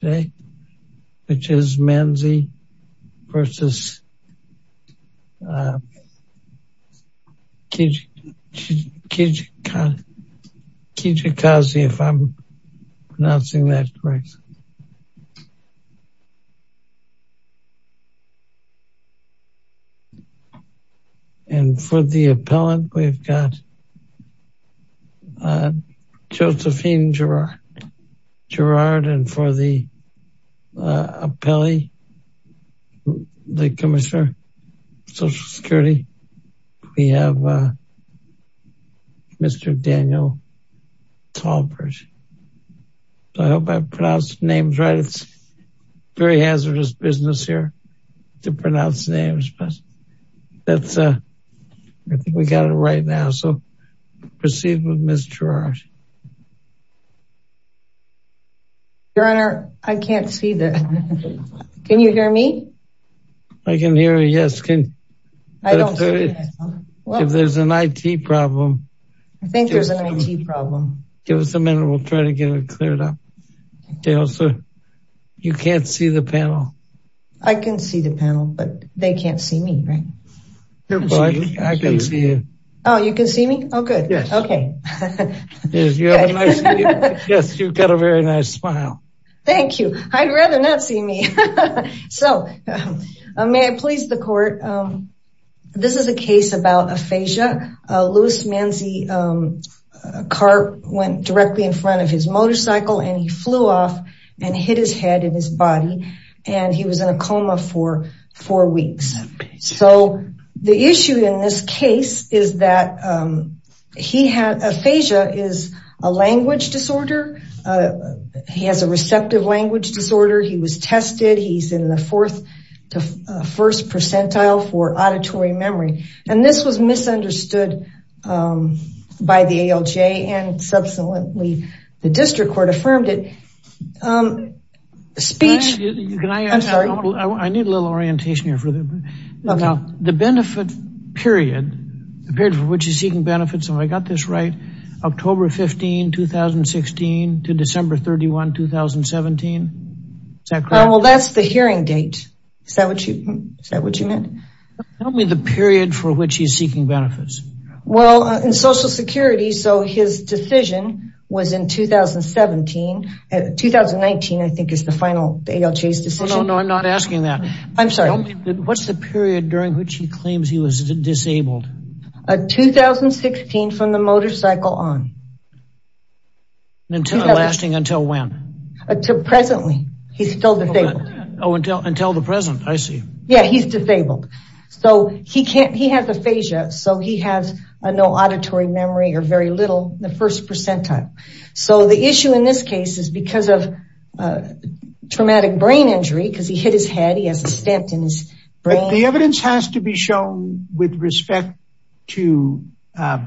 which is Manzi versus Kijakazi if I'm pronouncing that right. And for the appellant, we've got Josephine Girard and for the appellee, the commissioner of Social Security, we have Mr. Daniel Tallbridge. I hope I pronounced the names right. It's very hazardous business here to pronounce names but that's I think we got it right now. So proceed with Ms. Girard. Your Honor, I can't see that. Can you hear me? I can hear you. Yes. If there's an IT problem, give us a minute. We'll try to get it cleared up. You can't see the panel. I can see the panel, but they can't see me, right? I can see you. Oh, you can see me? Oh, good. Yes, you've got a very nice smile. Thank you. I'd rather not see me. So may I please the court. This is a case about aphasia. Louis Manzi's car went directly in front of his motorcycle and he flew off and hit his head in his body and he was in a coma for four weeks. So the issue in this case is that he had aphasia is a language disorder. He has a receptive language disorder. He was tested. He's in the fourth to first percentile for auditory memory and this was misunderstood by the ALJ and subsequently the district court affirmed it. Can I ask, I need a little orientation here. The benefit period, the period for which he's seeking benefits, if I got this right, October 15, 2016 to December 31, 2017. Is that correct? Well, that's the hearing date. Is that what you meant? Tell me the period for which he's seeking benefits. Well, in Social Security, so his decision was in 2017. 2019, I think, is the final ALJ's decision. No, I'm not asking that. I'm sorry. What's the period during which he claims he was disabled? 2016 from the motorcycle on. And until, lasting until when? Until presently. He's still disabled. Oh, until the present. I see. Yeah, he's disabled. So, he has aphasia, so he has no auditory memory or very little in the first percentile. So, the issue in this case is because of traumatic brain injury, because he hit his head, he has a stent in his brain. The evidence has to be shown with respect to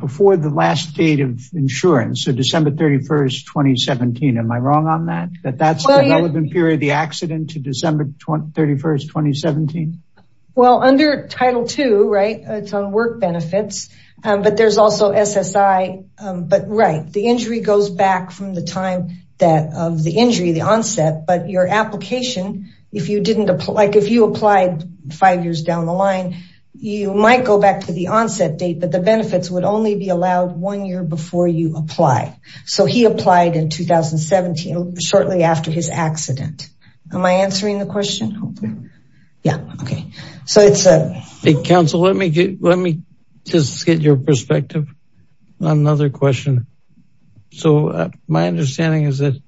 before the last date of insurance, so December 31, 2017. Am I wrong on that, that that's the relevant period, the accident to December 31, 2017? Well, under Title II, right, it's on work benefits, but there's also SSI. But right, the injury goes back from the time that of the injury, the onset, but your application, if you didn't apply, like if you applied five years down the line, you might go back to the onset date, but the benefits would only be allowed one year before you apply. So, he applied in 2017, shortly after his accident. Am I answering the question? Yeah. Yeah, okay. So, it's a... Counsel, let me just get your perspective on another question. So, my understanding is that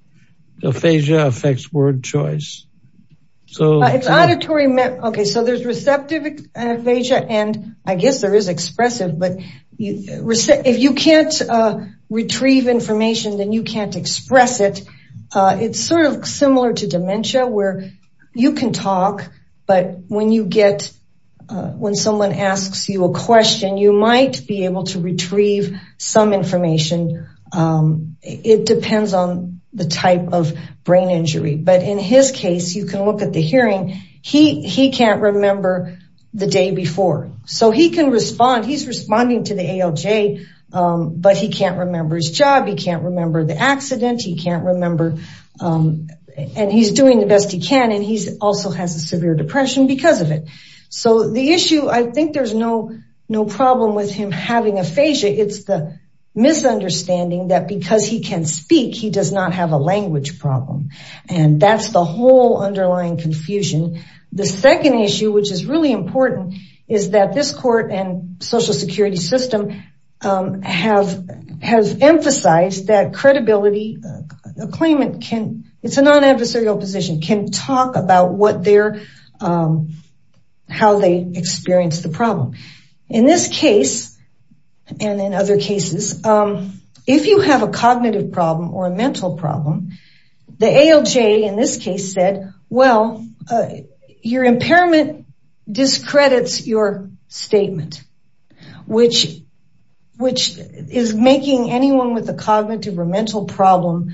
aphasia affects word choice, so... It's auditory... Okay, so there's receptive aphasia, and I guess there is expressive, but if you can't retrieve information, then you can't express it. It's sort of similar to dementia, where you can talk, but when you get... When someone asks you a question, you might be able to retrieve some information. It depends on the type of brain injury, but in his case, you can look at the hearing. He can't remember the day before, so he can respond. He's responding to the ALJ, but he can't remember his job. He can't remember the accident. He can't remember... And he's doing the best he can, and he also has a severe depression because of it. So, the issue, I think there's no problem with him having aphasia. It's the misunderstanding that because he can speak, he does not have a language problem, and that's the whole underlying confusion. The second issue, which is really important, is that this court and social security system have emphasized that credibility... A claimant can... It's a non-adversarial position... Can talk about how they experience the problem. In this case, and in other cases, if you have a cognitive problem or a mental problem, the ALJ, in this case, said, well, your impairment discredits your statement, which is making anyone with a cognitive or mental problem...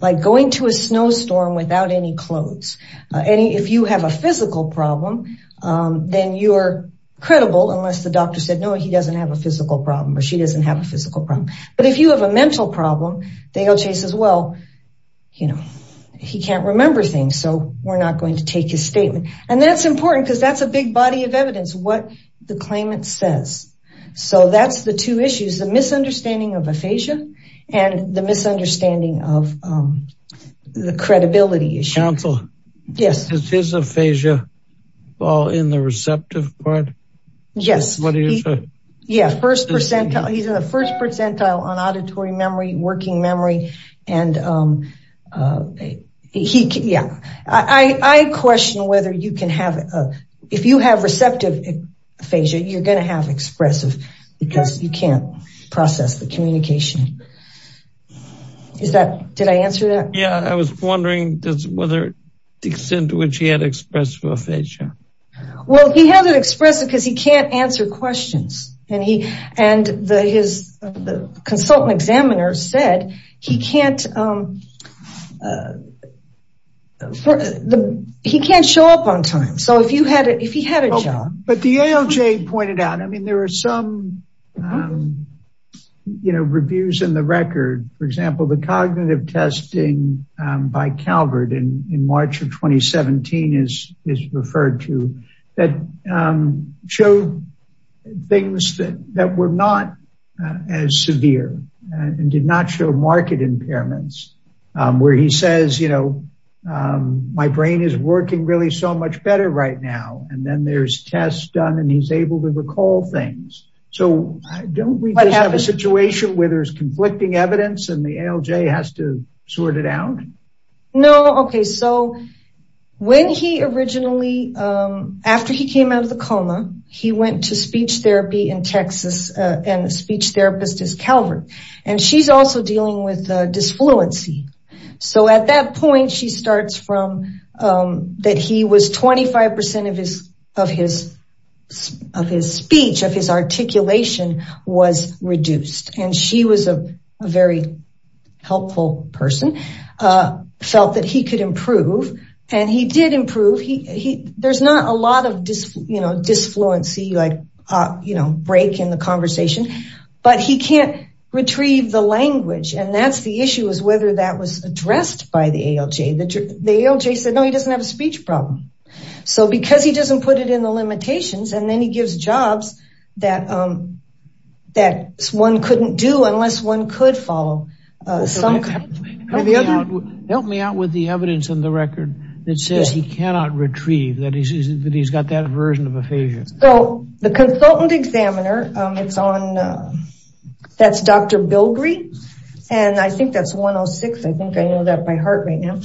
Like going to a snowstorm without any clothes. If you have a physical problem, then you're credible, unless the doctor said, no, he doesn't have a physical problem, or she doesn't have a physical problem. But if you have a mental problem, the ALJ says, well, he can't remember things, so we're not going to take his statement. And that's important because that's a big body of evidence, what the claimant says. So, that's the two issues, the misunderstanding of aphasia, and the misunderstanding of the credibility issue. Counsel, does his aphasia fall in the receptive part? Yes. He's in the first percentile on auditory memory, working memory. I question whether you can have... If you have receptive aphasia, you're going to have expressive, because you can't process the communication. Did I answer that? Yeah, I was wondering whether the extent to which he had expressive aphasia. Well, he had it expressive because he can't answer questions. And his consultant examiner said he can't show up on time. So, if he had a job... But the ALJ pointed out, I mean, there are some reviews in the record. For example, the cognitive testing by Calvert in March of 2017 is referred to that showed things that were not as severe and did not show market impairments, where he says, you know, my brain is working really so much better right now. And then there's tests done and he's able to recall things. So, don't we have a situation where there's conflicting evidence and the ALJ has to sort it out? No, okay. So, when he originally... After he came out of the coma, he went to speech therapy in Texas and the speech therapist is Calvert. And she's also dealing with dysfluency. So, at that point, she starts from that he was 25% of his speech, of his articulation was reduced. And she was a very helpful person. Felt that he could improve. And he did improve. There's not a lot of, you know, dysfluency, like, you know, break in the conversation, but he can't retrieve the language. And that's the issue is whether that was addressed by the ALJ. The ALJ said, no, he doesn't have a speech problem. So, because he doesn't put it in the limitations and then he gives jobs that one couldn't do unless one could follow some... Help me out with the evidence in the record that says he cannot retrieve, that he's got that version of aphasia. So, the consultant examiner, that's Dr. Bilbrey. And I think that's 106. I think I know that by heart right now.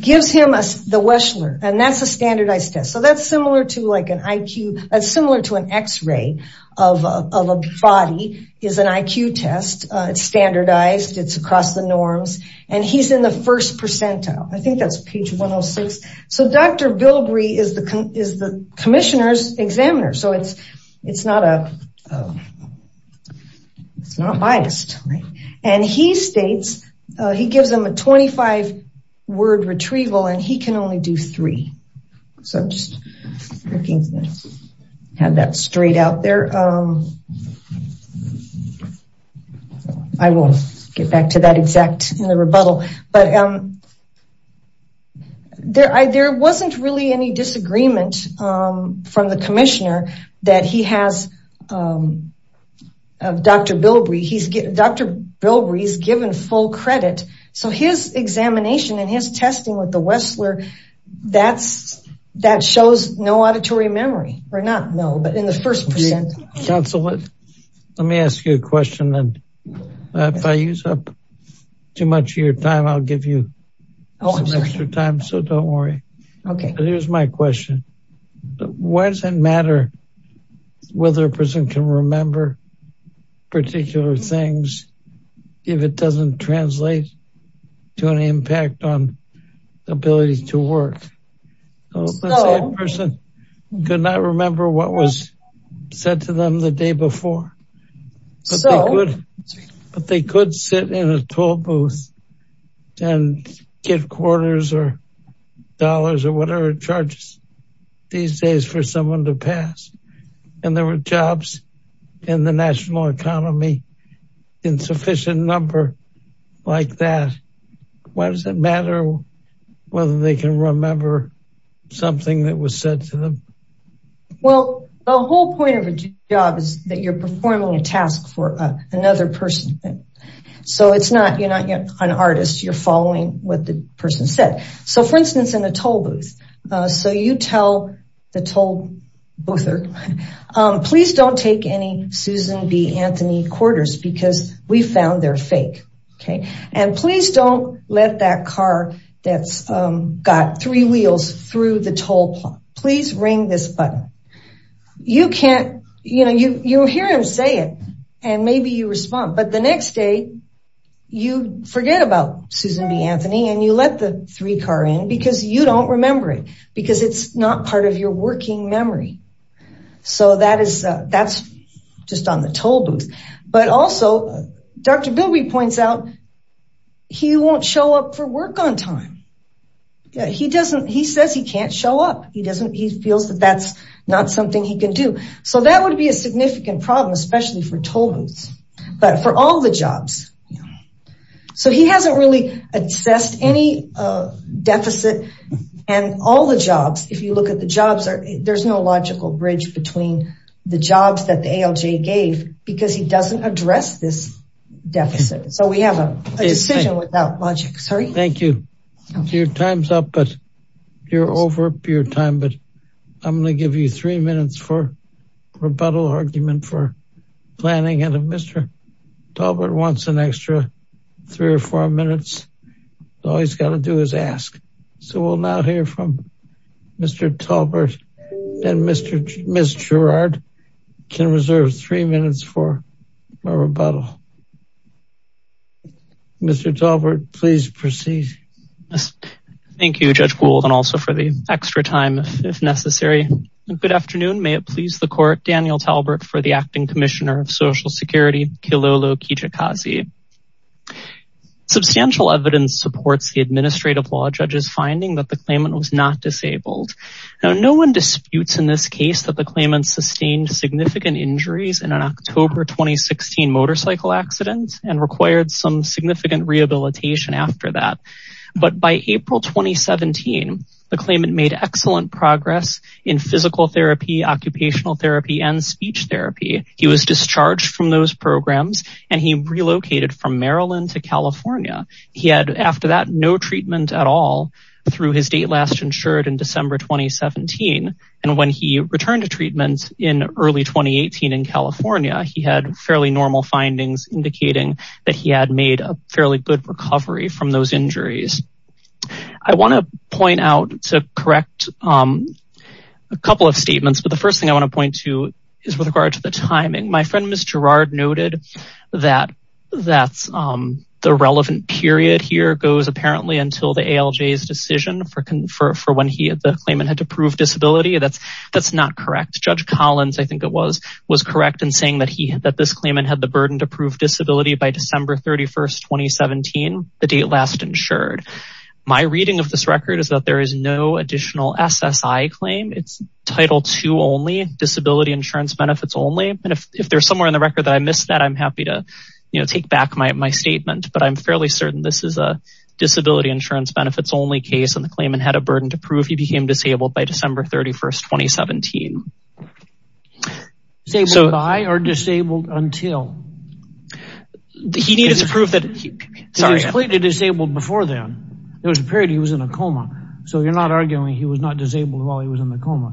Gives him the Weschler. And that's a standardized test. So, that's similar to like an IQ, similar to an X-ray of a body is an IQ test. It's standardized. It's across the norms. And he's in the first percentile. I think that's page 106. So, Dr. Bilbrey is the commissioner's examiner. So, it's not biased. And he states, he gives him a 25-word retrieval, and he can only do three. So, I'm just looking to have that straight out there. I will get back to that exact in the rebuttal. But there wasn't really any disagreement from the commissioner that he has Dr. Bilbrey. Dr. Bilbrey is given full credit. So, his examination and his testing with the Weschler, that shows no auditory memory. Or not no, but in the first percent. Counsel, let me ask you a question. And if I use up too much of your time, I'll give you some extra time. So, don't worry. Okay. But here's my question. Why does it matter whether a person can remember particular things, if it doesn't translate to an impact on ability to work? Let's say a person could not remember what was said to them the day before. But they could sit in a toll booth and get quarters or dollars or whatever charges these days for someone to pass. And there were jobs in the national economy in sufficient number like that. Why does it matter whether they can remember something that was said to them? Well, the whole point of a job is that you're performing a task for another person. So, it's not you're not an artist. You're following what the person said. So, for instance, in a toll booth. So, you tell the toll boother, please don't take any Susan B. Anthony quarters because we found they're fake. Okay. And please don't let that car that's got three wheels through the toll plot. Please ring this button. You can't, you know, you hear him say it and maybe you respond. But the next day, you forget about Susan B. Anthony and you let the three car in because you don't remember it because it's not part of your working memory. So, that's just on the toll booth. But also, Dr. Bilby points out he won't show up for work on time. He doesn't, he says he can't show up. He doesn't, he feels that that's not something he can do. So, that would be a significant problem, especially for toll booths. But for all the jobs. So, he hasn't really assessed any deficit and all the jobs, if you look at the jobs, there's no logical bridge between the jobs that the ALJ gave because he doesn't address this deficit. So, we have a decision without logic. Sorry. Thank you. Your time's up, but you're over your time. But I'm going to give you three minutes for rebuttal argument for planning. And if Mr. Talbert wants an extra three or four minutes, all he's got to do is ask. So, we'll now hear from Mr. Talbert. And Ms. Gerard can reserve three minutes for a rebuttal. Mr. Talbert, please proceed. Thank you, Judge Gould, and also for the extra time if necessary. Good afternoon. May it please the court. Daniel Talbert for the Acting Commissioner of Social Security, Kilolo Kijikazi. Substantial evidence supports the administrative law judge's finding that the claimant was not disabled. Now, no one disputes in this case that the claimant sustained significant injuries in an October 2016 motorcycle accident and required some significant rehabilitation after that. But by April 2017, the claimant made excellent progress in physical therapy, occupational therapy, and speech therapy. He was discharged from those programs, and he relocated from Maryland to California. He had, after that, no treatment at all through his date last insured in December 2017. And when he returned to treatment in early 2018 in California, he had fairly normal findings indicating that he had made a fairly good recovery from those injuries. I want to point out to correct a couple of statements. But the first thing I want to point to is with regard to the timing. My friend, Ms. Gerard, noted that the relevant period here goes apparently until the ALJ's decision for when the claimant had to prove disability. That's not correct. Judge Collins, I think it was, was correct in saying that this claimant had the burden to prove disability by December 31st, 2017, the date last insured. My reading of this record is that there is no additional SSI claim. It's Title II only, disability insurance benefits only. And if there's somewhere in the record that I missed that, I'm happy to take back my statement. But I'm fairly certain this is a disability insurance benefits only case. And the claimant had a burden to prove he became disabled by December 31st, 2017. Disabled by or disabled until? He needed to prove that, sorry. He was clearly disabled before then. There was a period he was in a coma. So you're not arguing he was not disabled while he was in the coma?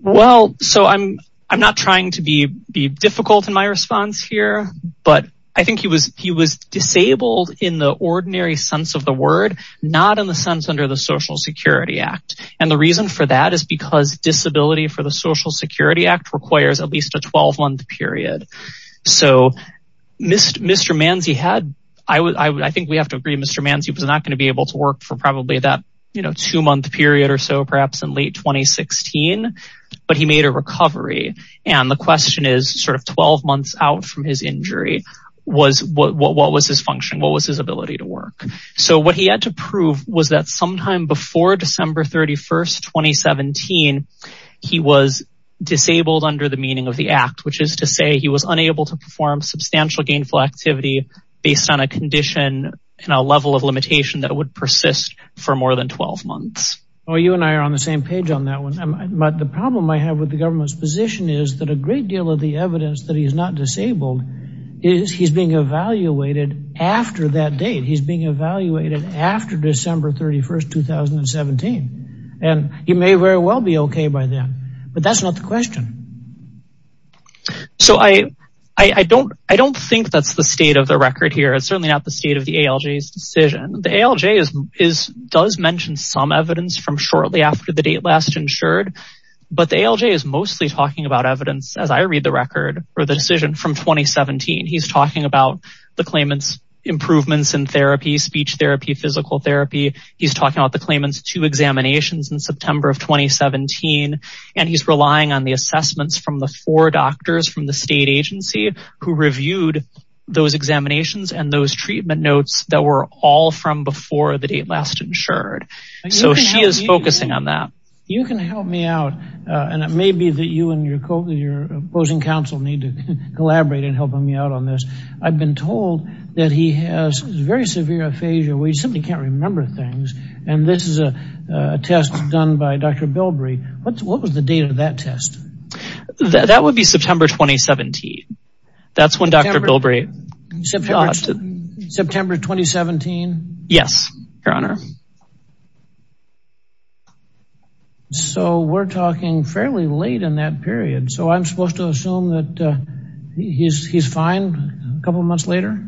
Well, so I'm not trying to be difficult in my response here. But I think he was disabled in the ordinary sense of the word, not in the sense under the Social Security Act. And the reason for that is because disability for the Social Security Act requires at least a 12-month period. So Mr. Manzi had, I think we have to agree Mr. Manzi was not going to be able to work for probably that, you know, two-month period or so, perhaps in late 2016. But he made a recovery. And the question is sort of 12 months out from his injury was what was his function? What was his ability to work? So what he had to prove was that sometime before December 31st, 2017, he was disabled under the meaning of the act, which is to say he was unable to perform substantial gainful activity based on a condition and a level of limitation that would persist for more than 12 months. Well, you and I are on the same page on that one. But the problem I have with the government's position is that a great deal of the evidence that he's not disabled is he's being evaluated after that date. He's being evaluated after December 31st, 2017. And he may very well be okay by then. But that's not the question. So I don't think that's the state of the record here. It's certainly not the state of the ALJ's decision. The ALJ does mention some evidence from shortly after the date last insured. But the ALJ is mostly talking about evidence, as I read the record, or the decision from 2017. He's talking about the claimant's improvements in therapy, speech therapy, physical therapy. He's talking about the claimant's two examinations in September of 2017. And he's relying on the assessments from the four doctors from the state agency who reviewed those examinations and those treatment notes that were all from before the date last insured. So she is focusing on that. You can help me out. And it may be that you and your opposing counsel need to collaborate in helping me out on this. I've been told that he has very severe aphasia where he simply can't remember things. And this is a test done by Dr. Bilbrey. What was the date of that test? That would be September 2017. That's when Dr. Bilbrey... September 2017? Yes, Your Honor. So we're talking fairly late in that period. So I'm supposed to assume that he's fine a couple months later?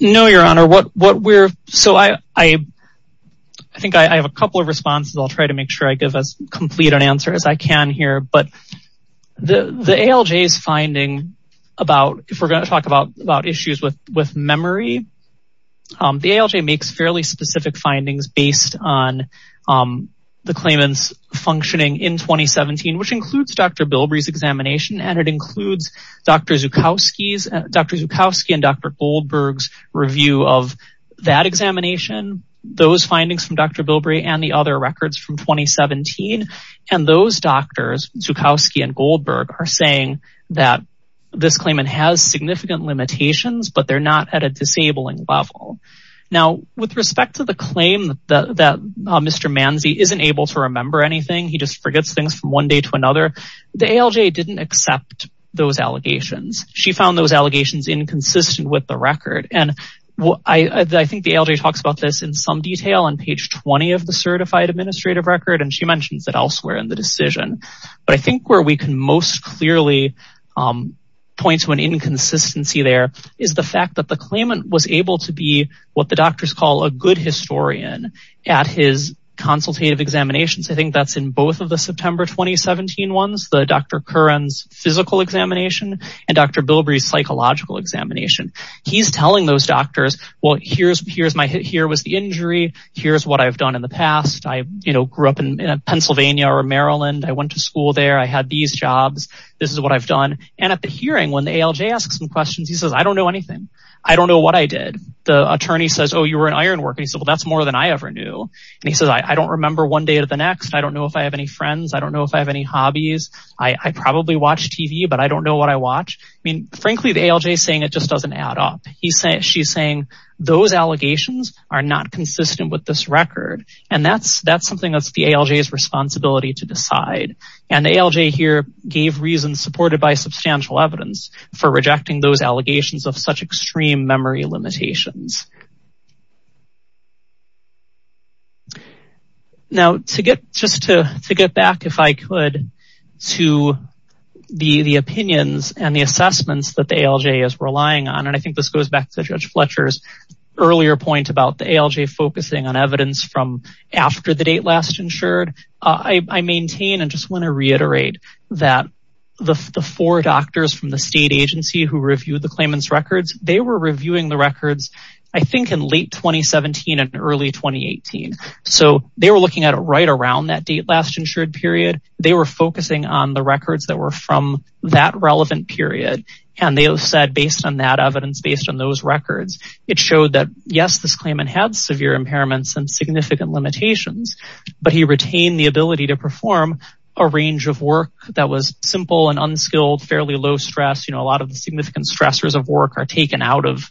No, Your Honor. So I think I have a couple of responses. I'll try to make sure I give as complete an answer as I can here. But the ALJ's finding about... If we're going to talk about issues with memory, the ALJ makes fairly specific findings based on the claimant's functioning in 2017, which includes Dr. Bilbrey's examination, and it includes Dr. Zukoski and Dr. Goldberg's review of that examination, those findings from Dr. Bilbrey, and the other records from 2017. And those doctors, Zukoski and Goldberg, are saying that this claimant has significant limitations, but they're not at a disabling level. Now, with respect to the claim that Mr. Manzi isn't able to remember anything, he just forgets things from one day to another, the ALJ didn't accept those allegations. She found those allegations inconsistent with the record. I think the ALJ talks about this in some detail on page 20 of the certified administrative record, and she mentions it elsewhere in the decision. But I think where we can most clearly point to an inconsistency there is the fact that the claimant was able to be what the doctors call a good historian at his consultative examinations. I think that's in both of the September 2017 ones, the Dr. Curran's physical examination and Dr. Bilbrey's psychological examination. He's telling those doctors, well, here was the injury. Here's what I've done in the past. I grew up in Pennsylvania or Maryland. I went to school there. I had these jobs. This is what I've done. And at the hearing, when the ALJ asks him questions, he says, I don't know anything. I don't know what I did. The attorney says, oh, you were an iron worker. He said, well, that's more than I ever knew. And he says, I don't remember one day to the next. I don't know if I have any friends. I don't know if I have any hobbies. I probably watch TV, but I don't know what I watch. I mean, frankly, the ALJ is saying it just doesn't add up. She's saying those allegations are not consistent with this record. And that's something that's the ALJ's responsibility to decide. And the ALJ here gave reason, supported by substantial evidence, for rejecting those allegations of such extreme memory limitations. Now, just to get back, if I could, to the opinions and the assessments that the ALJ is relying on, and I think this goes back to Judge Fletcher's earlier point about the ALJ focusing on evidence from after the date last insured. I maintain and just want to reiterate that the four doctors from the state agency who reviewed the claimant's records, they were reviewing the records I think in late 2017 and early 2018. So they were looking at it right around that date last insured period. They were focusing on the records that were from that relevant period. And they said, based on that evidence, based on those records, it showed that, yes, this claimant had severe impairments and significant limitations. But he retained the ability to perform a range of work that was simple and unskilled, fairly low stress. A lot of the significant stressors of work are taken out of,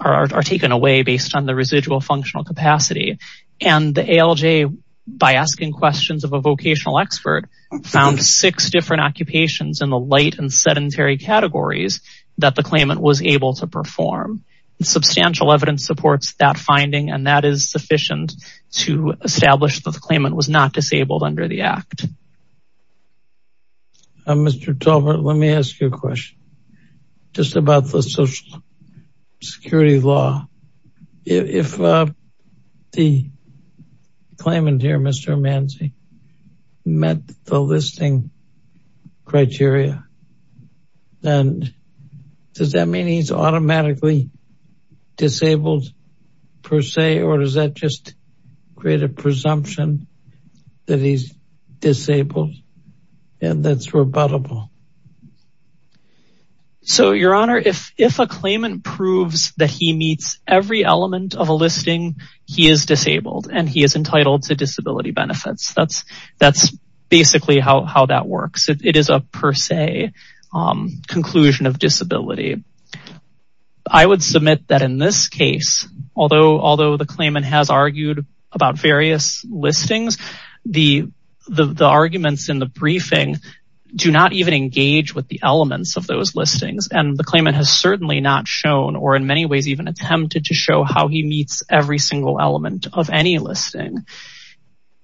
are taken away based on the residual functional capacity. And the ALJ, by asking questions of a vocational expert, found six different occupations in the light and sedentary categories that the claimant was able to perform. Substantial evidence supports that finding, and that is sufficient to establish that the claimant was not disabled under the act. Mr. Talbert, let me ask you a question just about the social security law. If the claimant here, Mr. Manzi, met the listing criteria, does that mean he's automatically disabled per se, or does that just create a presumption that he's disabled and that's rebuttable? So, Your Honor, if a claimant proves that he meets every element of a listing, he is disabled and he is entitled to disability benefits. That's basically how that works. It is a per se conclusion of disability. I would submit that in this case, although the claimant has argued about various listings, the arguments in the briefing do not even engage with the elements of those listings. And the claimant has certainly not shown, or in many ways even attempted to show, how he meets every single element of any listing.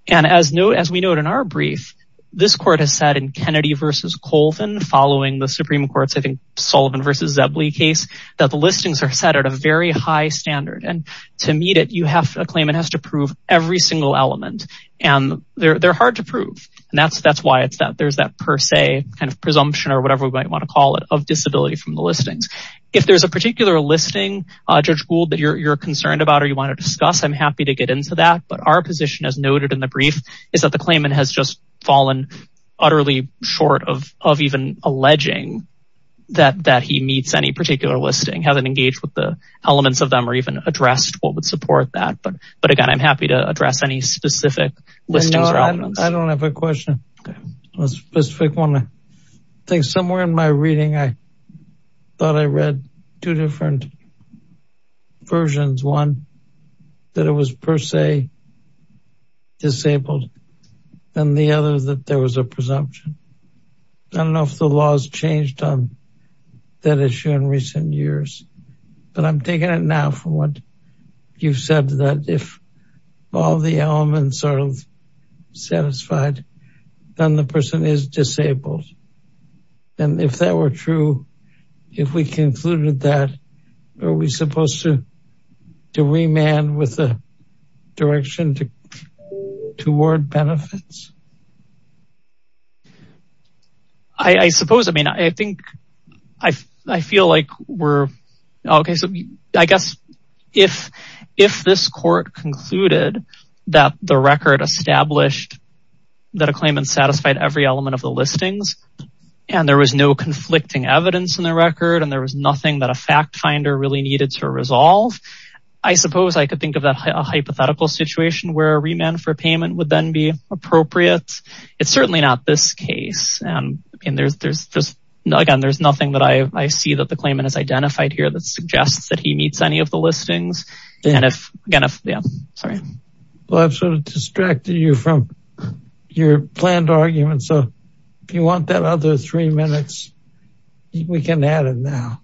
And as we note in our brief, this court has said in Kennedy v. Colvin, following the Supreme Court's, I think, Sullivan v. Zebley case, that the listings are set at a very high standard. And to meet it, a claimant has to prove every single element. And they're hard to prove. And that's why there's that per se kind of presumption, or whatever we might want to call it, of disability from the listings. If there's a particular listing, Judge Gould, that you're concerned about or you want to discuss, I'm happy to get into that. But our position, as noted in the brief, is that the claimant has just fallen utterly short of even alleging that he meets any particular listing, hasn't engaged with the elements of them, or even addressed what would support that. But again, I'm happy to address any specific listings or elements. I don't have a question. I think somewhere in my reading, I thought I read two different versions. One, that it was per se disabled. And the other, that there was a presumption. I don't know if the laws changed on that issue in recent years. But I'm taking it now from what you've said, that if all the elements are satisfied, then the person is disabled. And if that were true, if we concluded that, are we supposed to remand with the direction toward benefits? I suppose. I mean, I think, I feel like we're, okay. So I guess if this court concluded that the record established that a claimant satisfied every element of the listings, and there was no conflicting evidence in the record, and there was nothing that a fact finder really needed to resolve, I suppose I could think of a hypothetical situation where a remand for payment would then be appropriate. It's certainly not this case. And again, there's nothing that I see that the claimant has identified here that suggests that he meets any of the listings. And if, yeah, sorry. Well, I've sort of distracted you from your planned argument. So if you want that other three minutes, we can add it now.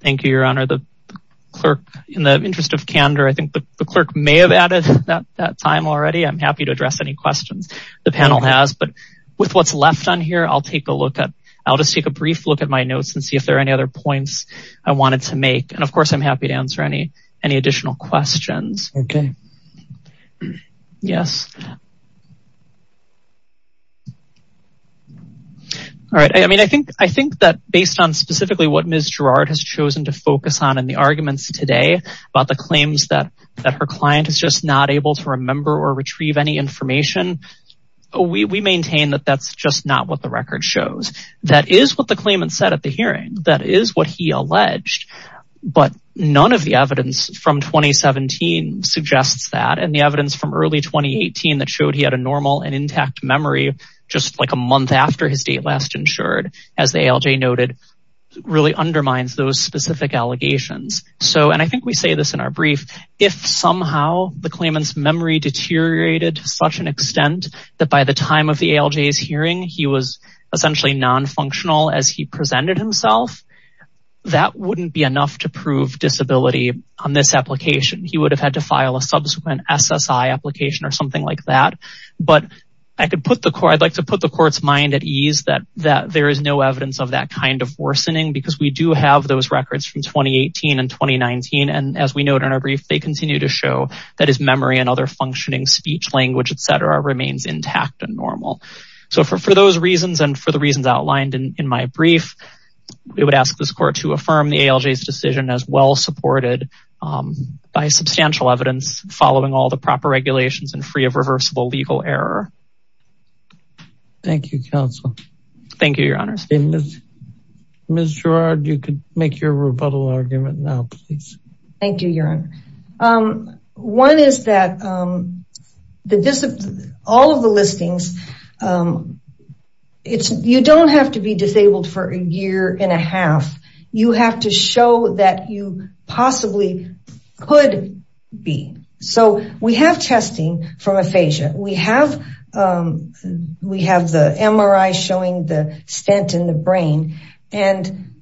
Thank you, Your Honor. The clerk, in the interest of candor, I think the clerk may have added that time already. I'm happy to address any questions the panel has. But with what's left on here, I'll take a look at, I'll just take a brief look at my notes and see if there are any other points I wanted to make. And, of course, I'm happy to answer any additional questions. Okay. Yes. All right. I mean, I think that based on specifically what Ms. Girard has chosen to focus on in the arguments today about the claims that her client is just not able to remember or retrieve any information, we maintain that that's just not what the record shows. That is what the claimant said at the hearing. That is what he alleged. But none of the evidence from 2017 suggests that. And the evidence from early 2018 that showed he had a normal and intact memory just like a month after his date last insured, as the ALJ noted, really undermines those specific allegations. So, and I think we say this in our brief, if somehow the claimant's memory deteriorated to such an extent that by the time of the ALJ's hearing, he was essentially nonfunctional as he presented himself, that wouldn't be enough to prove disability on this application. He would have had to file a subsequent SSI application or something like that. I'd like to put the court's mind at ease that there is no evidence of that kind of worsening because we do have those records from 2018 and 2019. And as we note in our brief, they continue to show that his memory and other functioning speech, language, et cetera, remains intact and normal. So for those reasons and for the reasons outlined in my brief, we would ask this court to affirm the ALJ's decision as well supported by substantial evidence following all the proper regulations and free of reversible legal error. Thank you, counsel. Thank you, Your Honor. Ms. Gerard, you can make your rebuttal argument now, please. Thank you, Your Honor. One is that all of the listings, you don't have to be disabled for a year and a half. You have to show that you possibly could be. So we have testing from aphasia. We have the MRI showing the stent in the brain. And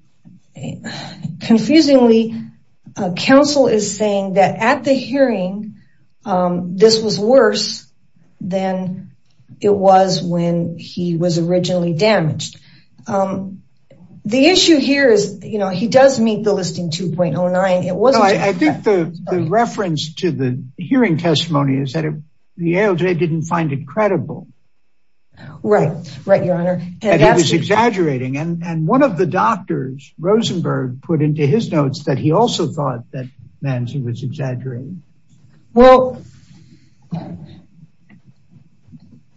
confusingly, counsel is saying that at the hearing, this was worse than it was when he was originally damaged. The issue here is, you know, he does meet the listing 2.09. I think the reference to the hearing testimony is that the ALJ didn't find it credible. Right, right, Your Honor. And he was exaggerating. And one of the doctors, Rosenberg, put into his notes that he also thought that Manzi was exaggerating. Well,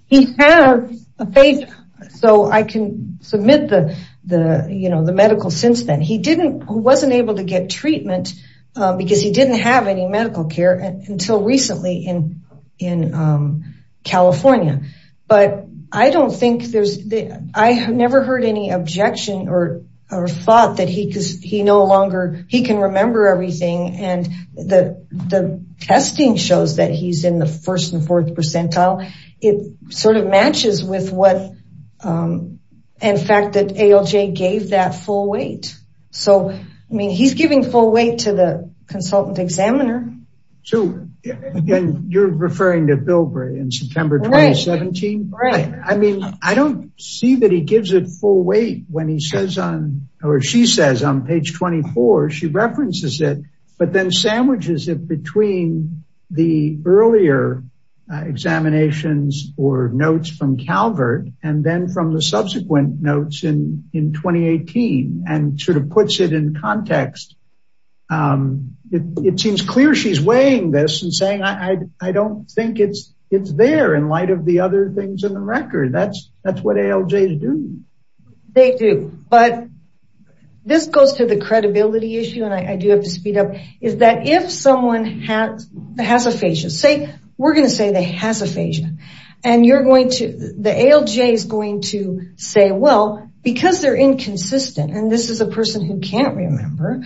he has aphasia. So I can submit the medical since then. He wasn't able to get treatment because he didn't have any medical care until recently in California. But I have never heard any objection or thought that he can remember everything. And the testing shows that he's in the first and fourth percentile. It sort of matches with the fact that ALJ gave that full weight. So, I mean, he's giving full weight to the consultant examiner. Again, you're referring to Bilbray in September 2017. Right. I mean, I don't see that he gives it full weight when he says on or she says on page 24, she references it. But then sandwiches it between the earlier examinations or notes from Calvert and then from the subsequent notes in 2018 and sort of puts it in context. It seems clear she's weighing this and saying, I don't think it's it's there in light of the other things in the record. That's that's what ALJ to do. They do. But this goes to the credibility issue. And I do have to speed up is that if someone has aphasia, say we're going to say they have aphasia and you're going to the ALJ is going to say, well, because they're inconsistent. And this is a person who can't remember.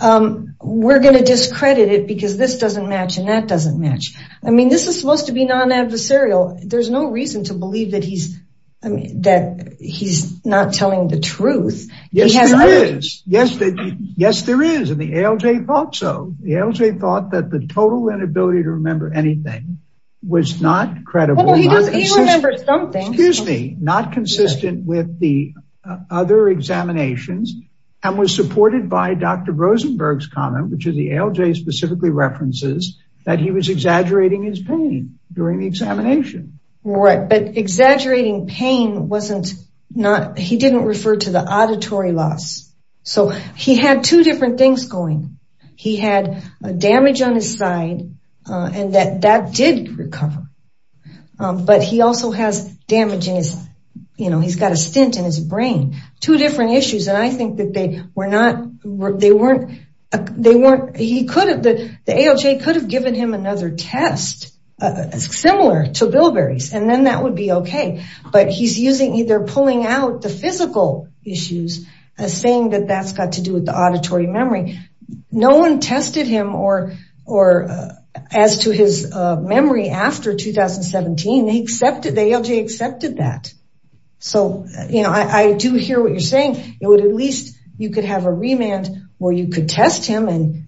We're going to discredit it because this doesn't match and that doesn't match. I mean, this is supposed to be non-adversarial. There's no reason to believe that he's that he's not telling the truth. Yes, there is. Yes. Yes, there is. And the ALJ thought so. The ALJ thought that the total inability to remember anything was not credible. He remembered something. Excuse me, not consistent with the other examinations and was supported by Dr. Rosenberg's comment, which is the ALJ specifically references that he was exaggerating his pain during the examination. Right. But exaggerating pain wasn't not he didn't refer to the auditory loss. So he had two different things going. He had damage on his side and that that did recover. But he also has damage in his you know, he's got a stint in his brain, two different issues. And I think that they were not they weren't they weren't he could have the ALJ could have given him another test similar to Bilberry's and then that would be OK. But he's using either pulling out the physical issues as saying that that's got to do with the auditory memory. No one tested him or or as to his memory after 2017, he accepted the ALJ accepted that. So, you know, I do hear what you're saying. It would at least you could have a remand where you could test him and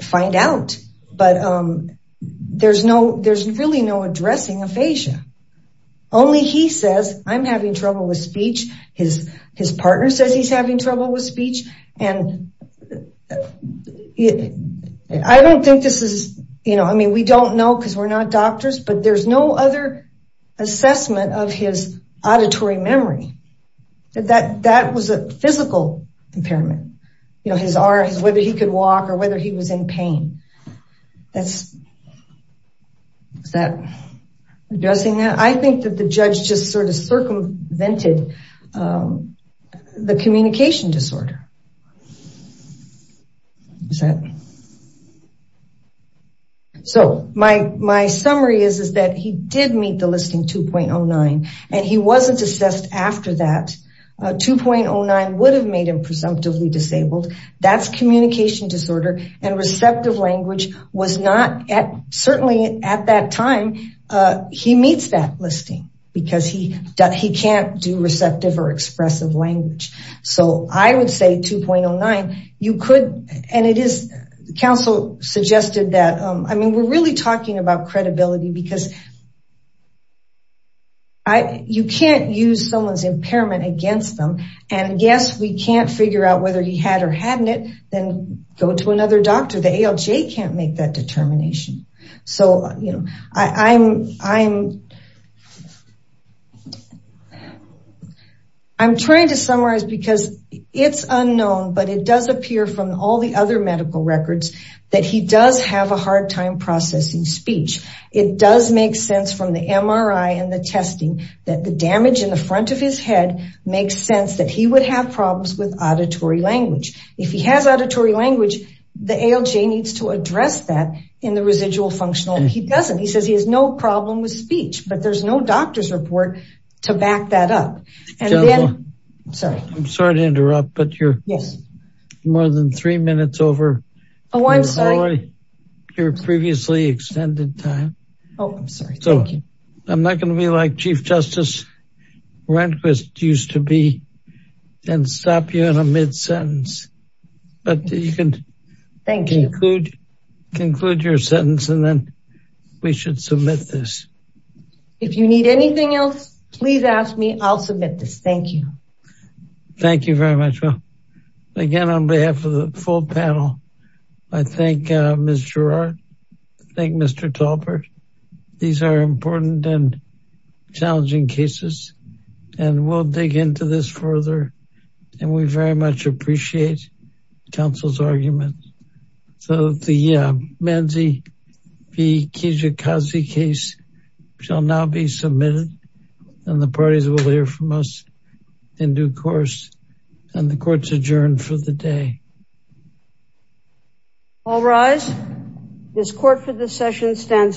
find out. But there's no there's really no addressing aphasia. Only he says I'm having trouble with speech. His his partner says he's having trouble with speech. And I don't think this is you know, I mean, we don't know because we're not doctors, but there's no other assessment of his auditory memory. That that was a physical impairment, you know, his arms, whether he could walk or whether he was in pain. That's. Is that addressing that? I think that the judge just sort of circumvented the communication disorder. Is that. So my my summary is, is that he did meet the listing 2.09 and he wasn't assessed after that. 2.09 would have made him presumptively disabled. That's communication disorder. And receptive language was not at certainly at that time. He meets that listing because he he can't do receptive or expressive language. So I would say 2.09, you could. And it is. The council suggested that. I mean, we're really talking about credibility because. I you can't use someone's impairment against them. And yes, we can't figure out whether he had or hadn't it. Then go to another doctor. The ALJ can't make that determination. So, you know, I'm I'm. I'm trying to summarize because it's unknown, but it does appear from all the other medical records that he does have a hard time processing speech. It does make sense from the MRI and the testing that the damage in the front of his head makes sense that he would have problems with auditory language. If he has auditory language, the ALJ needs to address that in the residual functional. He doesn't. He says he has no problem with speech, but there's no doctor's report to back that up. And then I'm sorry. I'm sorry to interrupt, but you're more than three minutes over. Oh, I'm sorry. Your previously extended time. I'm not going to be like Chief Justice Rehnquist used to be and stop you in a mid-sentence, but you can conclude your sentence and then we should submit this. If you need anything else, please ask me. I'll submit this. Thank you. Thank you very much. Well, again, on behalf of the full panel, I think Mr. Thank Mr. Tolbert. These are important and challenging cases. And we'll dig into this further. And we very much appreciate counsel's argument. So the Manzi V. Kijikazi case shall now be submitted and the parties will hear from us in due course. And the court's adjourned for the day. All rise. This court for this session stands adjourned.